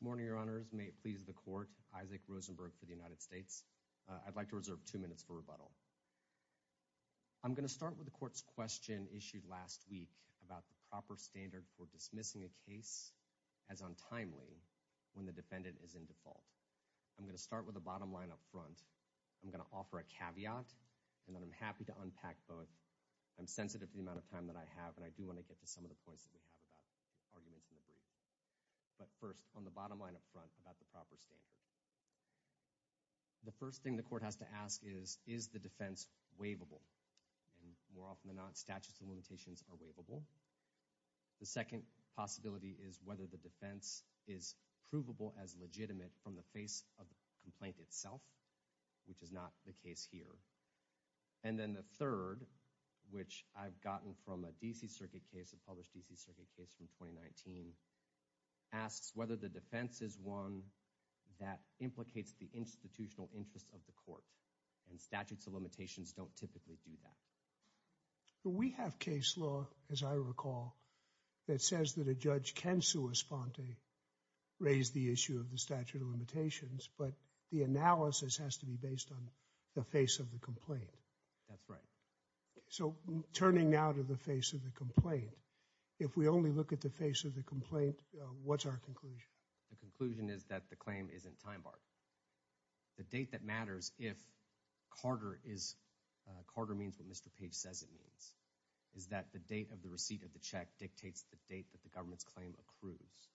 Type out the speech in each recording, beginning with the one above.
Good morning, Your Honors. May it please the Court, Isaac Rosenberg for the United States, I'd like to reserve two minutes for rebuttal. I'm going to start with the Court's question issued last week about the proper standard for dismissing a case as untimely when the defendant is in default. I'm going to start with the bottom line up front. I'm going to offer a caveat, and then I'm happy to unpack both. I'm sensitive to the amount of time that I have, and I do want to get to some of the questions that we have about arguments in the brief, but first, on the bottom line up front about the proper standard, the first thing the Court has to ask is, is the defense waivable? And more often than not, statutes of limitations are waivable. The second possibility is whether the defense is provable as legitimate from the face of the complaint itself, which is not the case here. And then the third, which I've gotten from a D.C. Circuit case, a published D.C. Circuit case from 2019, asks whether the defense is one that implicates the institutional interest of the Court, and statutes of limitations don't typically do that. We have case law, as I recall, that says that a judge can sue a sponte, raise the issue of the statute of limitations, but the analysis has to be based on the face of the complaint. That's right. So turning now to the face of the complaint, if we only look at the face of the complaint, what's our conclusion? The conclusion is that the claim isn't time-barred. The date that matters if Carter is, Carter means what Mr. Page says it means, is that the date of the receipt of the check dictates the date that the government's claim accrues,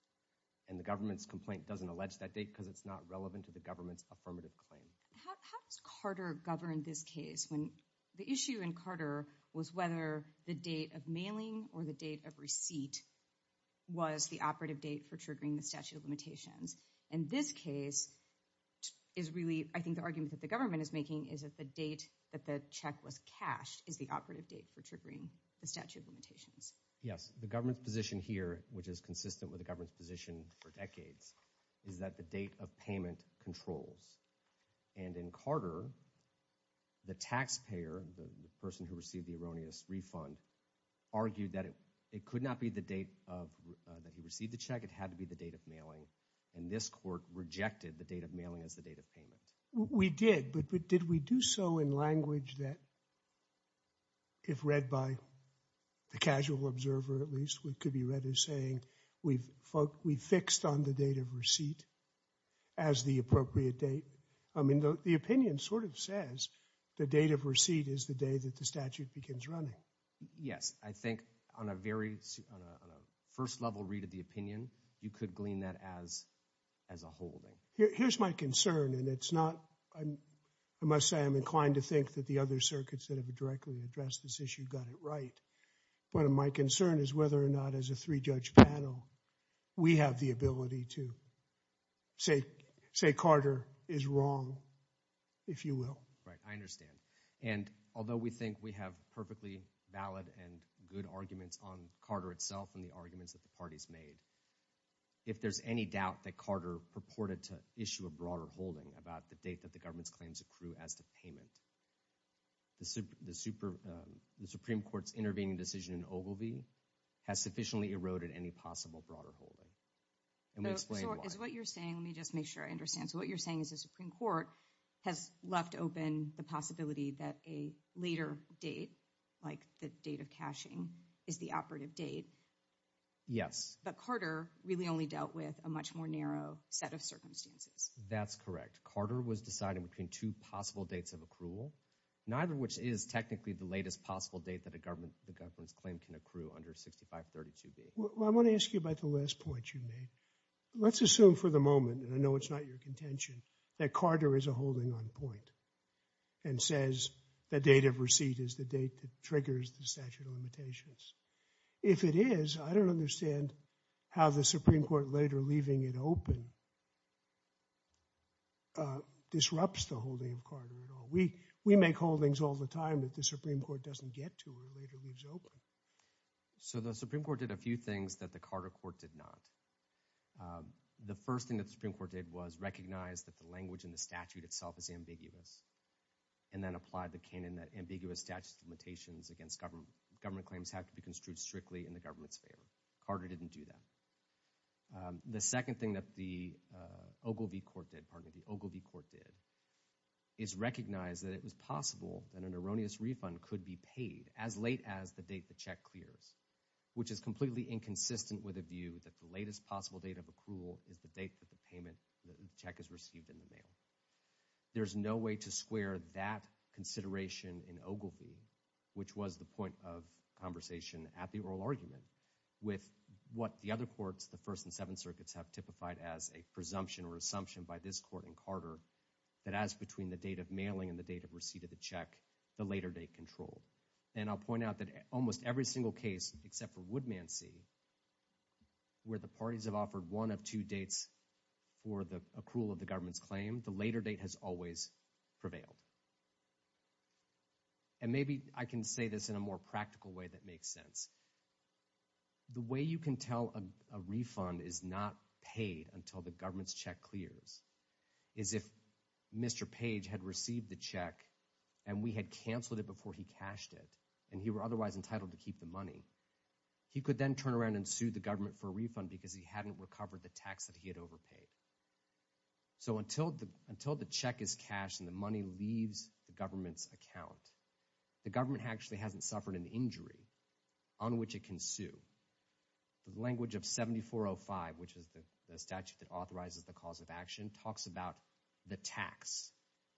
and the government's complaint doesn't allege that date because it's not relevant to the government's affirmative claim. How does Carter govern this case when the issue in Carter was whether the date of mailing or the date of receipt was the operative date for triggering the statute of limitations? And this case is really, I think the argument that the government is making is that the date that the check was cashed is the operative date for triggering the statute of limitations. Yes, the government's position here, which is consistent with the government's position for decades, is that the date of payment controls. And in Carter, the taxpayer, the person who received the erroneous refund, argued that it could not be the date that he received the check, it had to be the date of mailing, and this court rejected the date of mailing as the date of payment. We did, but did we do so in language that, if read by the casual observer at least, it could be read as saying, we've fixed on the date of receipt as the appropriate date? I mean, the opinion sort of says the date of receipt is the day that the statute begins running. Yes, I think on a very, on a first level read of the opinion, you could glean that as a holding. Here's my concern, and it's not, I must say I'm inclined to think that the other circuits that have directly addressed this issue got it right, but my concern is whether or not as a three-judge panel, we have the ability to say, say Carter is wrong, if you will. Right, I understand. And although we think we have perfectly valid and good arguments on Carter itself and the issue of broader holding about the date that the government's claims accrue as to payment, the Supreme Court's intervening decision in Ogilvie has sufficiently eroded any possible broader holding, and we explained why. So is what you're saying, let me just make sure I understand, so what you're saying is the Supreme Court has left open the possibility that a later date, like the date of cashing, is the operative date? Yes. But Carter really only dealt with a much more narrow set of circumstances. That's correct. Carter was deciding between two possible dates of accrual, neither of which is technically the latest possible date that a government, the government's claim can accrue under 6532b. Well, I want to ask you about the last point you made. Let's assume for the moment, and I know it's not your contention, that Carter is a holding on point and says the date of receipt is the date that triggers the statute of limitations. If it is, I don't understand how the Supreme Court later leaving it open disrupts the holding of Carter at all. We make holdings all the time that the Supreme Court doesn't get to or later leaves open. So the Supreme Court did a few things that the Carter court did not. The first thing that the Supreme Court did was recognize that the language in the statute itself is ambiguous, and then applied the canon that ambiguous statute of limitations against government claims have to be construed strictly in the government's favor. Carter didn't do that. The second thing that the Ogilvy court did, pardon me, the Ogilvy court did is recognize that it was possible that an erroneous refund could be paid as late as the date the check clears, which is completely inconsistent with a view that the latest possible date of accrual is the date that the payment, the check is received in the mail. There's no way to square that consideration in Ogilvy, which was the point of conversation at the oral argument, with what the other courts, the First and Seventh Circuits, have typified as a presumption or assumption by this court in Carter that as between the date of mailing and the date of receipt of the check, the later date control. And I'll point out that almost every single case, except for Woodmansey, where the parties have offered one of two dates for the accrual of the government's claim, the later date has always prevailed. And maybe I can say this in a more practical way that makes sense. The way you can tell a refund is not paid until the government's check clears is if Mr. Page had received the check and we had canceled it before he cashed it, and he were otherwise entitled to keep the money. He could then turn around and sue the government for a refund because he hadn't recovered the tax that he had overpaid. So until the check is cashed and the money leaves the government's account, the government actually hasn't suffered an injury on which it can sue. The language of 7405, which is the statute that authorizes the cause of action, talks about the tax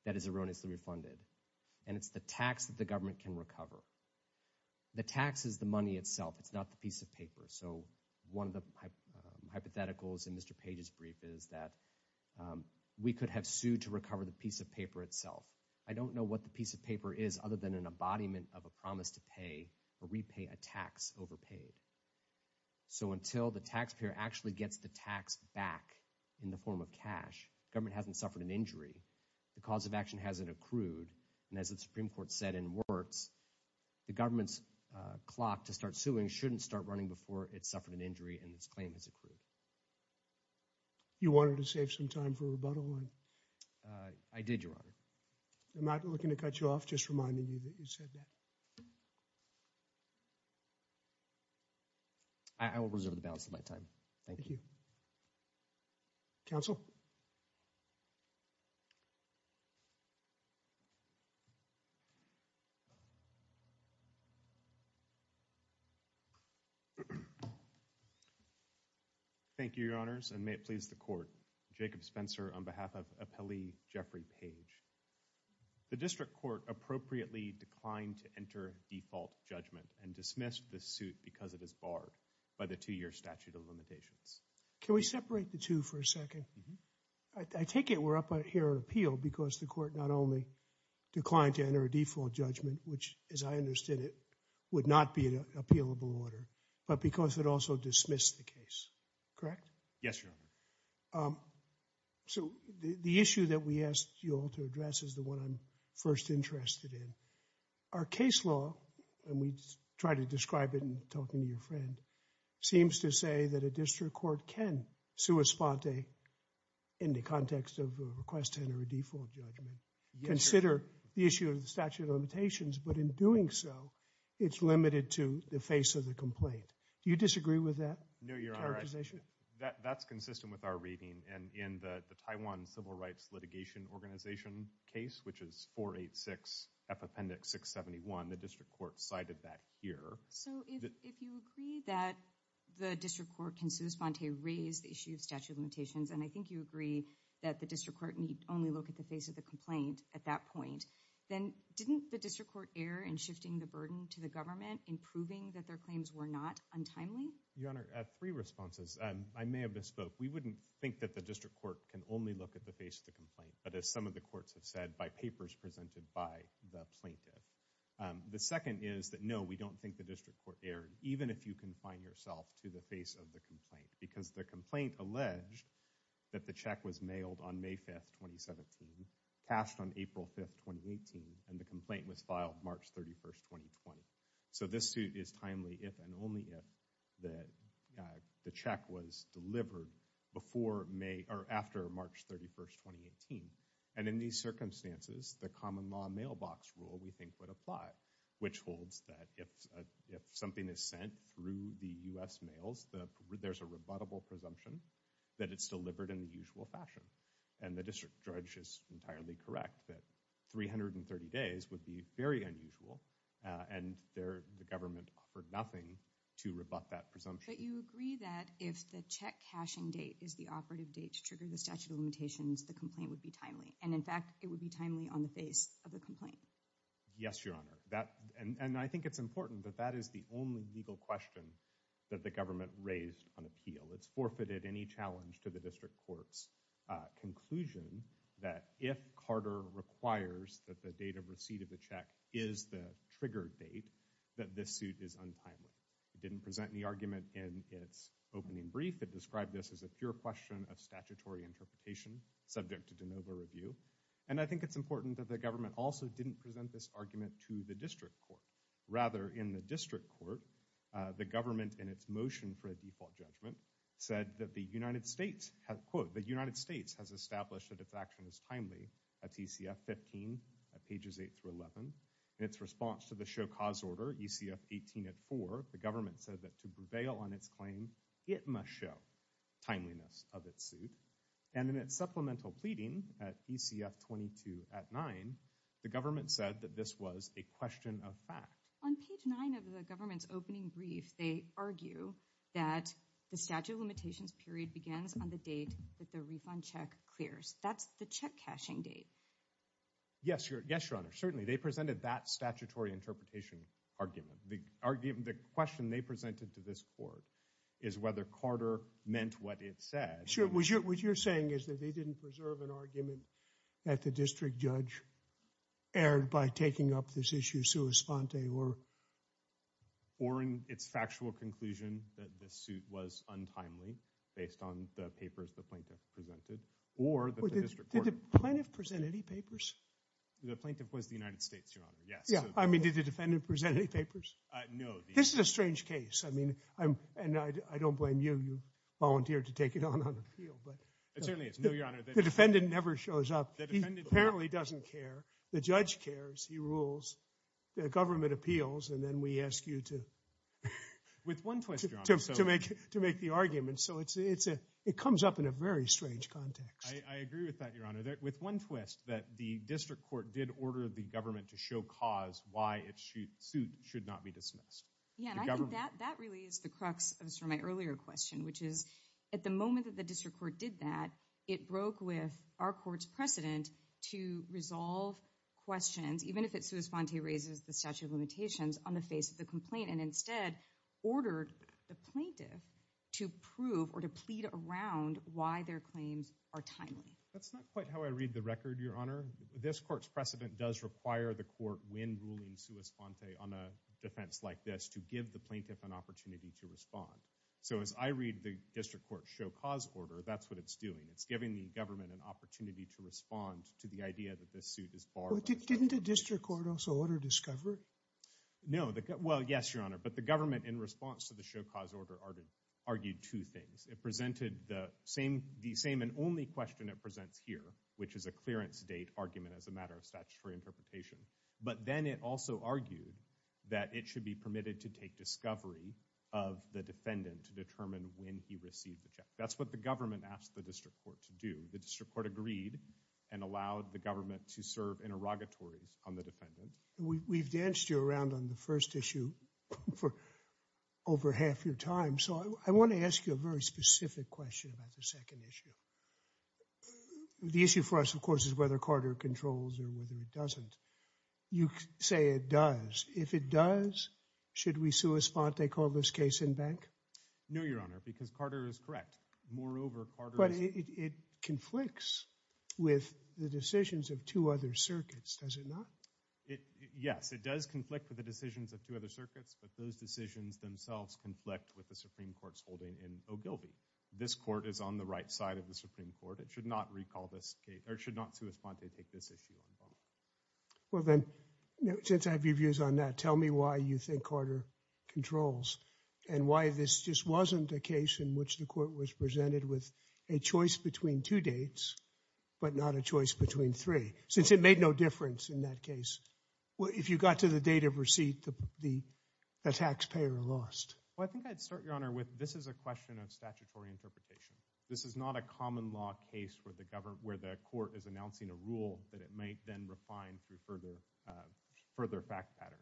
that is erroneously refunded, and it's the tax that the government can recover. The tax is the money itself. It's not the piece of paper. So one of the hypotheticals in Mr. Page's brief is that we could have sued to recover the piece of paper itself. I don't know what the piece of paper is other than an embodiment of a promise to pay or repay a tax overpaid. So until the taxpayer actually gets the tax back in the form of cash, government hasn't suffered an injury, the cause of action hasn't accrued, and as the Supreme Court said in the brief, the government's clock to start suing shouldn't start running before it's suffered an injury and its claim has accrued. You wanted to save some time for rebuttal. I did, Your Honor. I'm not looking to cut you off. Just reminding you that you said that. I will reserve the balance of my time. Thank you. Counsel? Thank you, Your Honors, and may it please the Court. Jacob Spencer on behalf of Appellee Jeffrey Page. The District Court appropriately declined to enter default judgment and dismissed the suit because it is barred by the two-year statute of limitations. Can we separate the two for a second? I take it we're up here on appeal because the Court not only declined to enter a default judgment, which as I understood it would not be an appealable order, but because it also dismissed the case, correct? Yes, Your Honor. So the issue that we asked you all to address is the one I'm first interested in. Our case law, and we try to describe it in talking to your friend, seems to say that the District Court can sui sponte in the context of a request to enter a default judgment, consider the issue of the statute of limitations, but in doing so, it's limited to the face of the complaint. Do you disagree with that characterization? No, Your Honor. That's consistent with our reading, and in the Taiwan Civil Rights Litigation Organization case, which is 486F Appendix 671, the District Court cited that here. So if you agree that the District Court can sui sponte raise the issue of statute of limitations, and I think you agree that the District Court need only look at the face of the complaint at that point, then didn't the District Court err in shifting the burden to the government in proving that their claims were not untimely? Your Honor, three responses. I may have misspoke. We wouldn't think that the District Court can only look at the face of the complaint, but as some of the courts have said, by papers presented by the plaintiff. The second is that no, we don't think the District Court erred, even if you confine yourself to the face of the complaint, because the complaint alleged that the check was mailed on May 5th, 2017, passed on April 5th, 2018, and the complaint was filed March 31st, 2020. So this suit is timely if and only if the check was delivered after March 31st, 2018. And in these circumstances, the common law mailbox rule we think would apply, which holds that if something is sent through the U.S. mails, there's a rebuttable presumption that it's delivered in the usual fashion. And the district judge is entirely correct that 330 days would be very unusual, and the government offered nothing to rebut that presumption. But you agree that if the check-cashing date is the operative date to trigger the statute limitations, the complaint would be timely. And in fact, it would be timely on the face of the complaint. Yes, Your Honor. And I think it's important that that is the only legal question that the government raised on appeal. It's forfeited any challenge to the District Court's conclusion that if Carter requires that the date of receipt of the check is the trigger date, that this suit is untimely. It didn't present any argument in its opening brief. It described this as a pure question of statutory interpretation, subject to de novo review. And I think it's important that the government also didn't present this argument to the District Court. Rather, in the District Court, the government, in its motion for a default judgment, said that the United States has, quote, the United States has established that its action is timely. That's ECF 15 at pages 8 through 11. In its response to the show cause order, ECF 18 at 4, the government said that to prevail on its claim, it must show timeliness of its suit. And in its supplemental pleading at ECF 22 at 9, the government said that this was a question of fact. On page 9 of the government's opening brief, they argue that the statute of limitations period begins on the date that the refund check clears. That's the check cashing date. Yes, Your Honor. Certainly, they presented that statutory interpretation argument. The question they presented to this court is whether Carter meant what it said. Sure. What you're saying is that they didn't preserve an argument that the District Judge aired by taking up this issue sua sponte, or? Or in its factual conclusion, that the suit was untimely, based on the papers the plaintiff presented, or the District Court. Did the plaintiff present any papers? The plaintiff was the United States, Your Honor. Yes. I mean, did the defendant present any papers? No. This is a strange case. I mean, and I don't blame you. You volunteered to take it on on appeal. But the defendant never shows up. The defendant apparently doesn't care. The judge cares. He rules. The government appeals. And then we ask you to make the argument. So it comes up in a very strange context. I agree with that, Your Honor. With one twist, that the District Court did order the government to show cause why its suit should not be dismissed. Yeah, and I think that really is the crux of my earlier question, which is, at the moment that the District Court did that, it broke with our court's precedent to resolve questions, even if it sua sponte raises the statute of limitations, on the face of the complaint, and instead ordered the plaintiff to prove or to plead around why their claims are timely. That's not quite how I read the record, Your Honor. This court's precedent does require the court, when ruling sua sponte on a defense like this, to give the plaintiff an opportunity to respond. So as I read the District Court show cause order, that's what it's doing. It's giving the government an opportunity to respond to the idea that this suit is borrowed. Didn't the District Court also order discovery? No. Well, yes, Your Honor. But the government, in response to the show cause order, argued two things. It presented the same and only question it presents here, which is a clearance date argument as a matter of statutory interpretation. But then it also argued that it should be permitted to take discovery of the defendant to determine when he received the check. That's what the government asked the District Court to do. The District Court agreed and allowed the government to serve interrogatories on the defendant. We've danced you around on the first issue for over half your time, so I want to ask you a very specific question about the second issue. The issue for us, of course, is whether Carter controls or whether it doesn't. You say it does. If it does, should we sue Esponte, call this case in bank? No, Your Honor, because Carter is correct. Moreover, Carter is... But it conflicts with the decisions of two other circuits, does it not? Yes, it does conflict with the decisions of two other circuits, but those decisions themselves conflict with the Supreme Court's holding in Ogilvie. This court is on the right side of the Supreme Court. It should not recall this case, or it should not sue Esponte to take this issue on bond. Well, then, since I have your views on that, tell me why you think Carter controls and why this just wasn't a case in which the court was presented with a choice between two dates, but not a choice between three, since it made no difference in that case. If you got to the date of receipt, the taxpayer lost. Well, I think I'd start, Your Honor, with this is a question of statutory interpretation. This is not a common law case where the court is announcing a rule that it might then refine through further fact patterns.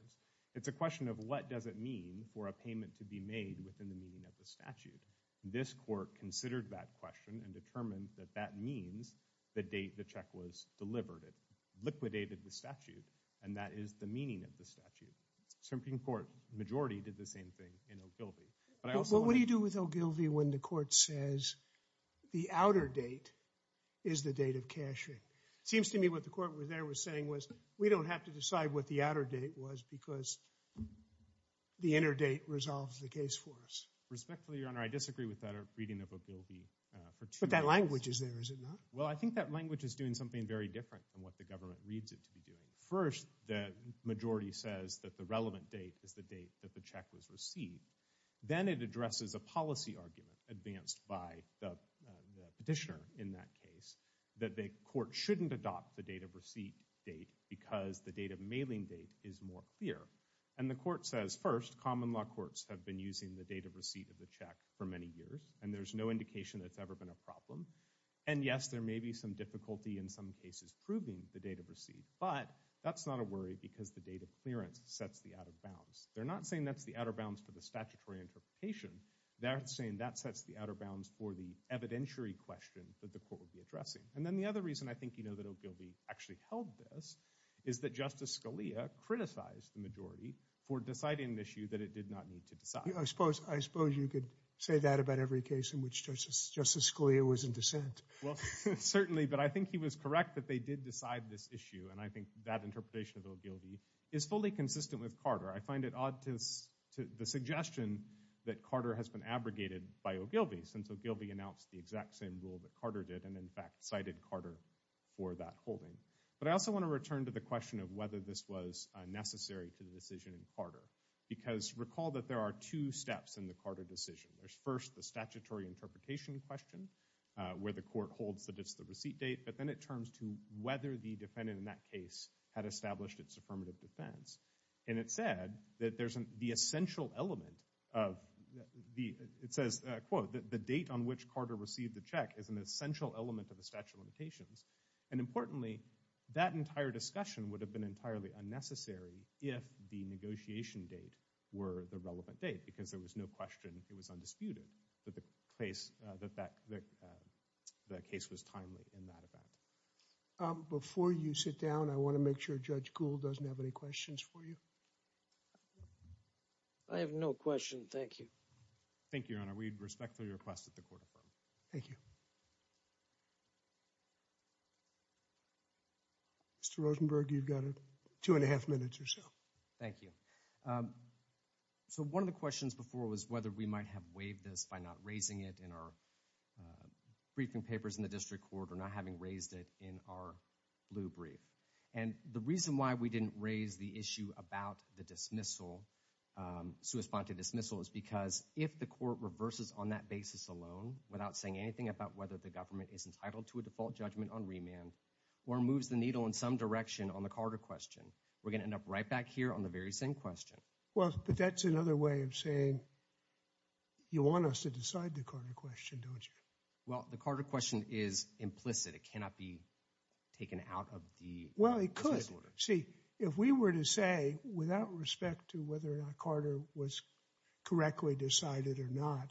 It's a question of what does it mean for a payment to be made within the meaning of the statute. This court considered that question and determined that that means the date the check was delivered. It liquidated the statute, and that is the meaning of the statute. Supreme Court majority did the same thing in Ogilvie. What do you do with Ogilvie when the court says the outer date is the date of cashing? It seems to me what the court there was saying was we don't have to decide what the outer date was because the inner date resolves the case for us. Respectfully, Your Honor, I disagree with that reading of Ogilvie for two minutes. But that language is there, is it not? Well, I think that language is doing something very different from what the government reads it to be doing. First, the majority says that the relevant date is the date that the check was received. Then it addresses a policy argument advanced by the petitioner in that case that the court shouldn't adopt the date of receipt date because the date of mailing date is more clear. And the court says, first, common law courts have been using the date of receipt of the check for many years, and there's no indication that's ever been a problem. And yes, there may be some difficulty in some cases proving the date of receipt, but that's not a worry because the date of clearance sets the outer bounds. They're not saying that's the outer bounds for the statutory interpretation. They're saying that sets the outer bounds for the evidentiary question that the court will be addressing. And then the other reason I think you know that Ogilvie actually held this is that Justice Scalia criticized the majority for deciding an issue that it did not need to decide. I suppose you could say that about every case in which Justice Scalia was in dissent. Well, certainly, but I think he was correct that they did decide this issue. And I think that interpretation of Ogilvie is fully consistent with Carter. I find it odd to the suggestion that Carter has been abrogated by Ogilvie since Ogilvie announced the exact same rule that Carter did and in fact cited Carter for that holding. But I also want to return to the question of whether this was necessary to the decision in Carter because recall that there are two steps in the Carter decision. There's first the statutory interpretation question where the court holds that it's the receipt date, but then it turns to whether the defendant in that case had established its affirmative defense. And it said that there's the essential element of the, it says, quote, the date on which Carter received the check is an essential element of the statute of limitations. And importantly, that entire discussion would have been entirely unnecessary if the negotiation date were the relevant date because there was no question it was undisputed that the case, that the case was timely in that event. Before you sit down, I want to make sure Judge Gould doesn't have any questions for you. I have no question. Thank you. Thank you, Your Honor. We respectfully request that the court affirm. Thank you. Mr. Rosenberg, you've got two and a half minutes or so. Thank you. So one of the questions before was whether we might have waived this by not raising it in our briefing papers in the district court or not having raised it in our blue brief. And the reason why we didn't raise the issue about the dismissal, sui sponte dismissal, is because if the court reverses on that basis alone without saying anything about whether the government is entitled to a default judgment on remand or moves the needle in some direction on the Carter question, we're going to end up right back here on the very same question. Well, but that's another way of saying, you want us to decide the Carter question, don't you? Well, the Carter question is implicit. It cannot be taken out of the court. Well, it could. See, if we were to say, without respect to whether or not Carter was correctly decided or not,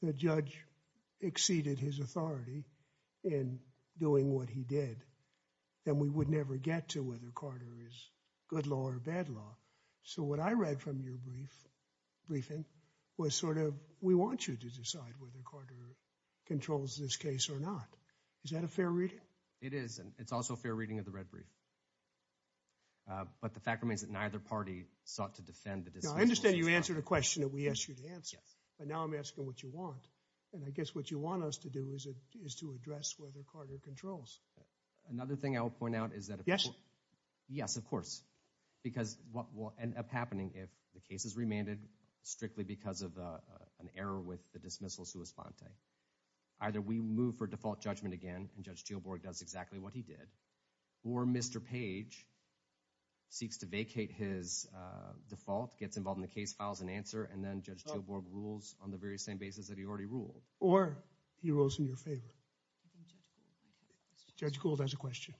the judge exceeded his authority in doing what he did, then we would never get to whether Carter is good law or bad law. So what I read from your brief briefing was sort of, we want you to decide whether Carter controls this case or not. Is that a fair reading? It is. And it's also a fair reading of the red brief. But the fact remains that neither party sought to defend the dismissal. I understand you answered a question that we asked you to answer. But now I'm asking what you want. And I guess what you want us to do is to address whether Carter controls. Another thing I will point out is that. Yes. Yes, of course. Because what will end up happening if the case is remanded strictly because of an error with the dismissal sua sponte. Either we move for default judgment again, and Judge Jill Borg does exactly what he did, or Mr. Page seeks to vacate his default, gets involved in the case files and answer, and then Judge Jill Borg rules on the very same basis that he already ruled. Or he rules in your favor. Judge Gould has a question.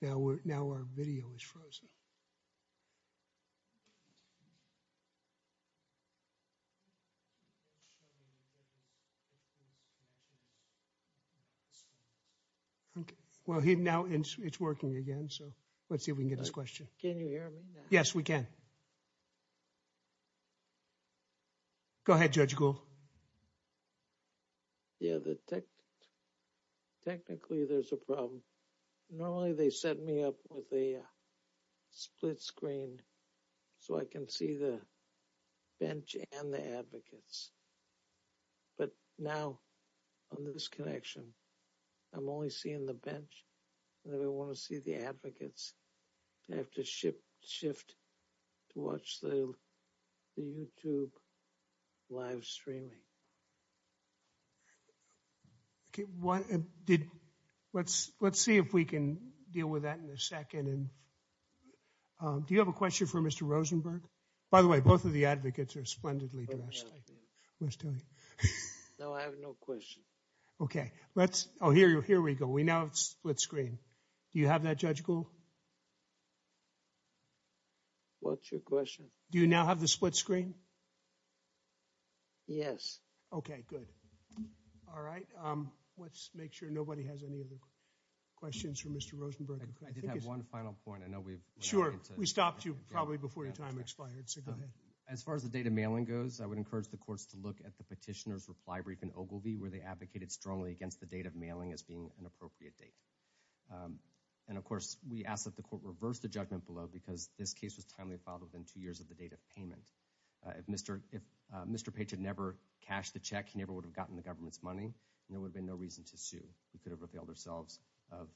Now, we're now our video is frozen. OK, well, he now it's working again. So let's see if we can get this question. Can you hear me? Yes, we can. Go ahead, Judge Gould. Yeah, the tech. Technically, there's a problem. Normally, they set me up with a split screen. So I can see the bench and the advocates. But now on this connection, I'm only seeing the bench. And then I want to see the advocates. I have to shift to watch the YouTube live streaming. OK, let's see if we can deal with that in a second. And do you have a question for Mr. Rosenberg? By the way, both of the advocates are splendidly dressed. No, I have no question. OK, here we go. We now have split screen. Do you have that, Judge Gould? What's your question? Do you now have the split screen? Yes. OK, good. All right. Let's make sure nobody has any other questions for Mr. Rosenberg. I did have one final point. I know we've. Sure, we stopped you probably before your time expired. So go ahead. As far as the date of mailing goes, I would encourage the courts to look at the petitioner's reply brief in Ogilvie, where they advocated strongly against the date of mailing as being an appropriate date. And, of course, we ask that the court reverse the judgment below because this case was timely filed within two years of the date of payment. If Mr. Page had never cashed the check, he never would have gotten the government's money, and there would have been no reason to sue. We could have availed ourselves of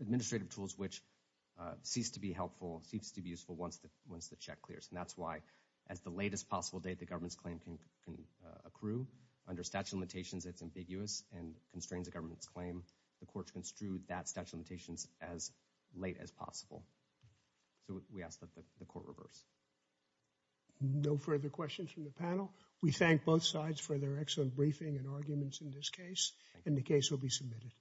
administrative tools, which cease to be helpful, cease to be useful once the check clears. And that's why, at the latest possible date, the government's claim can accrue. Under statute of limitations, it's ambiguous and constrains the government's claim. The courts construed that statute of limitations as late as possible. So we ask that the court reverse. No further questions from the panel. We thank both sides for their excellent briefing and arguments in this case, and the case will be submitted.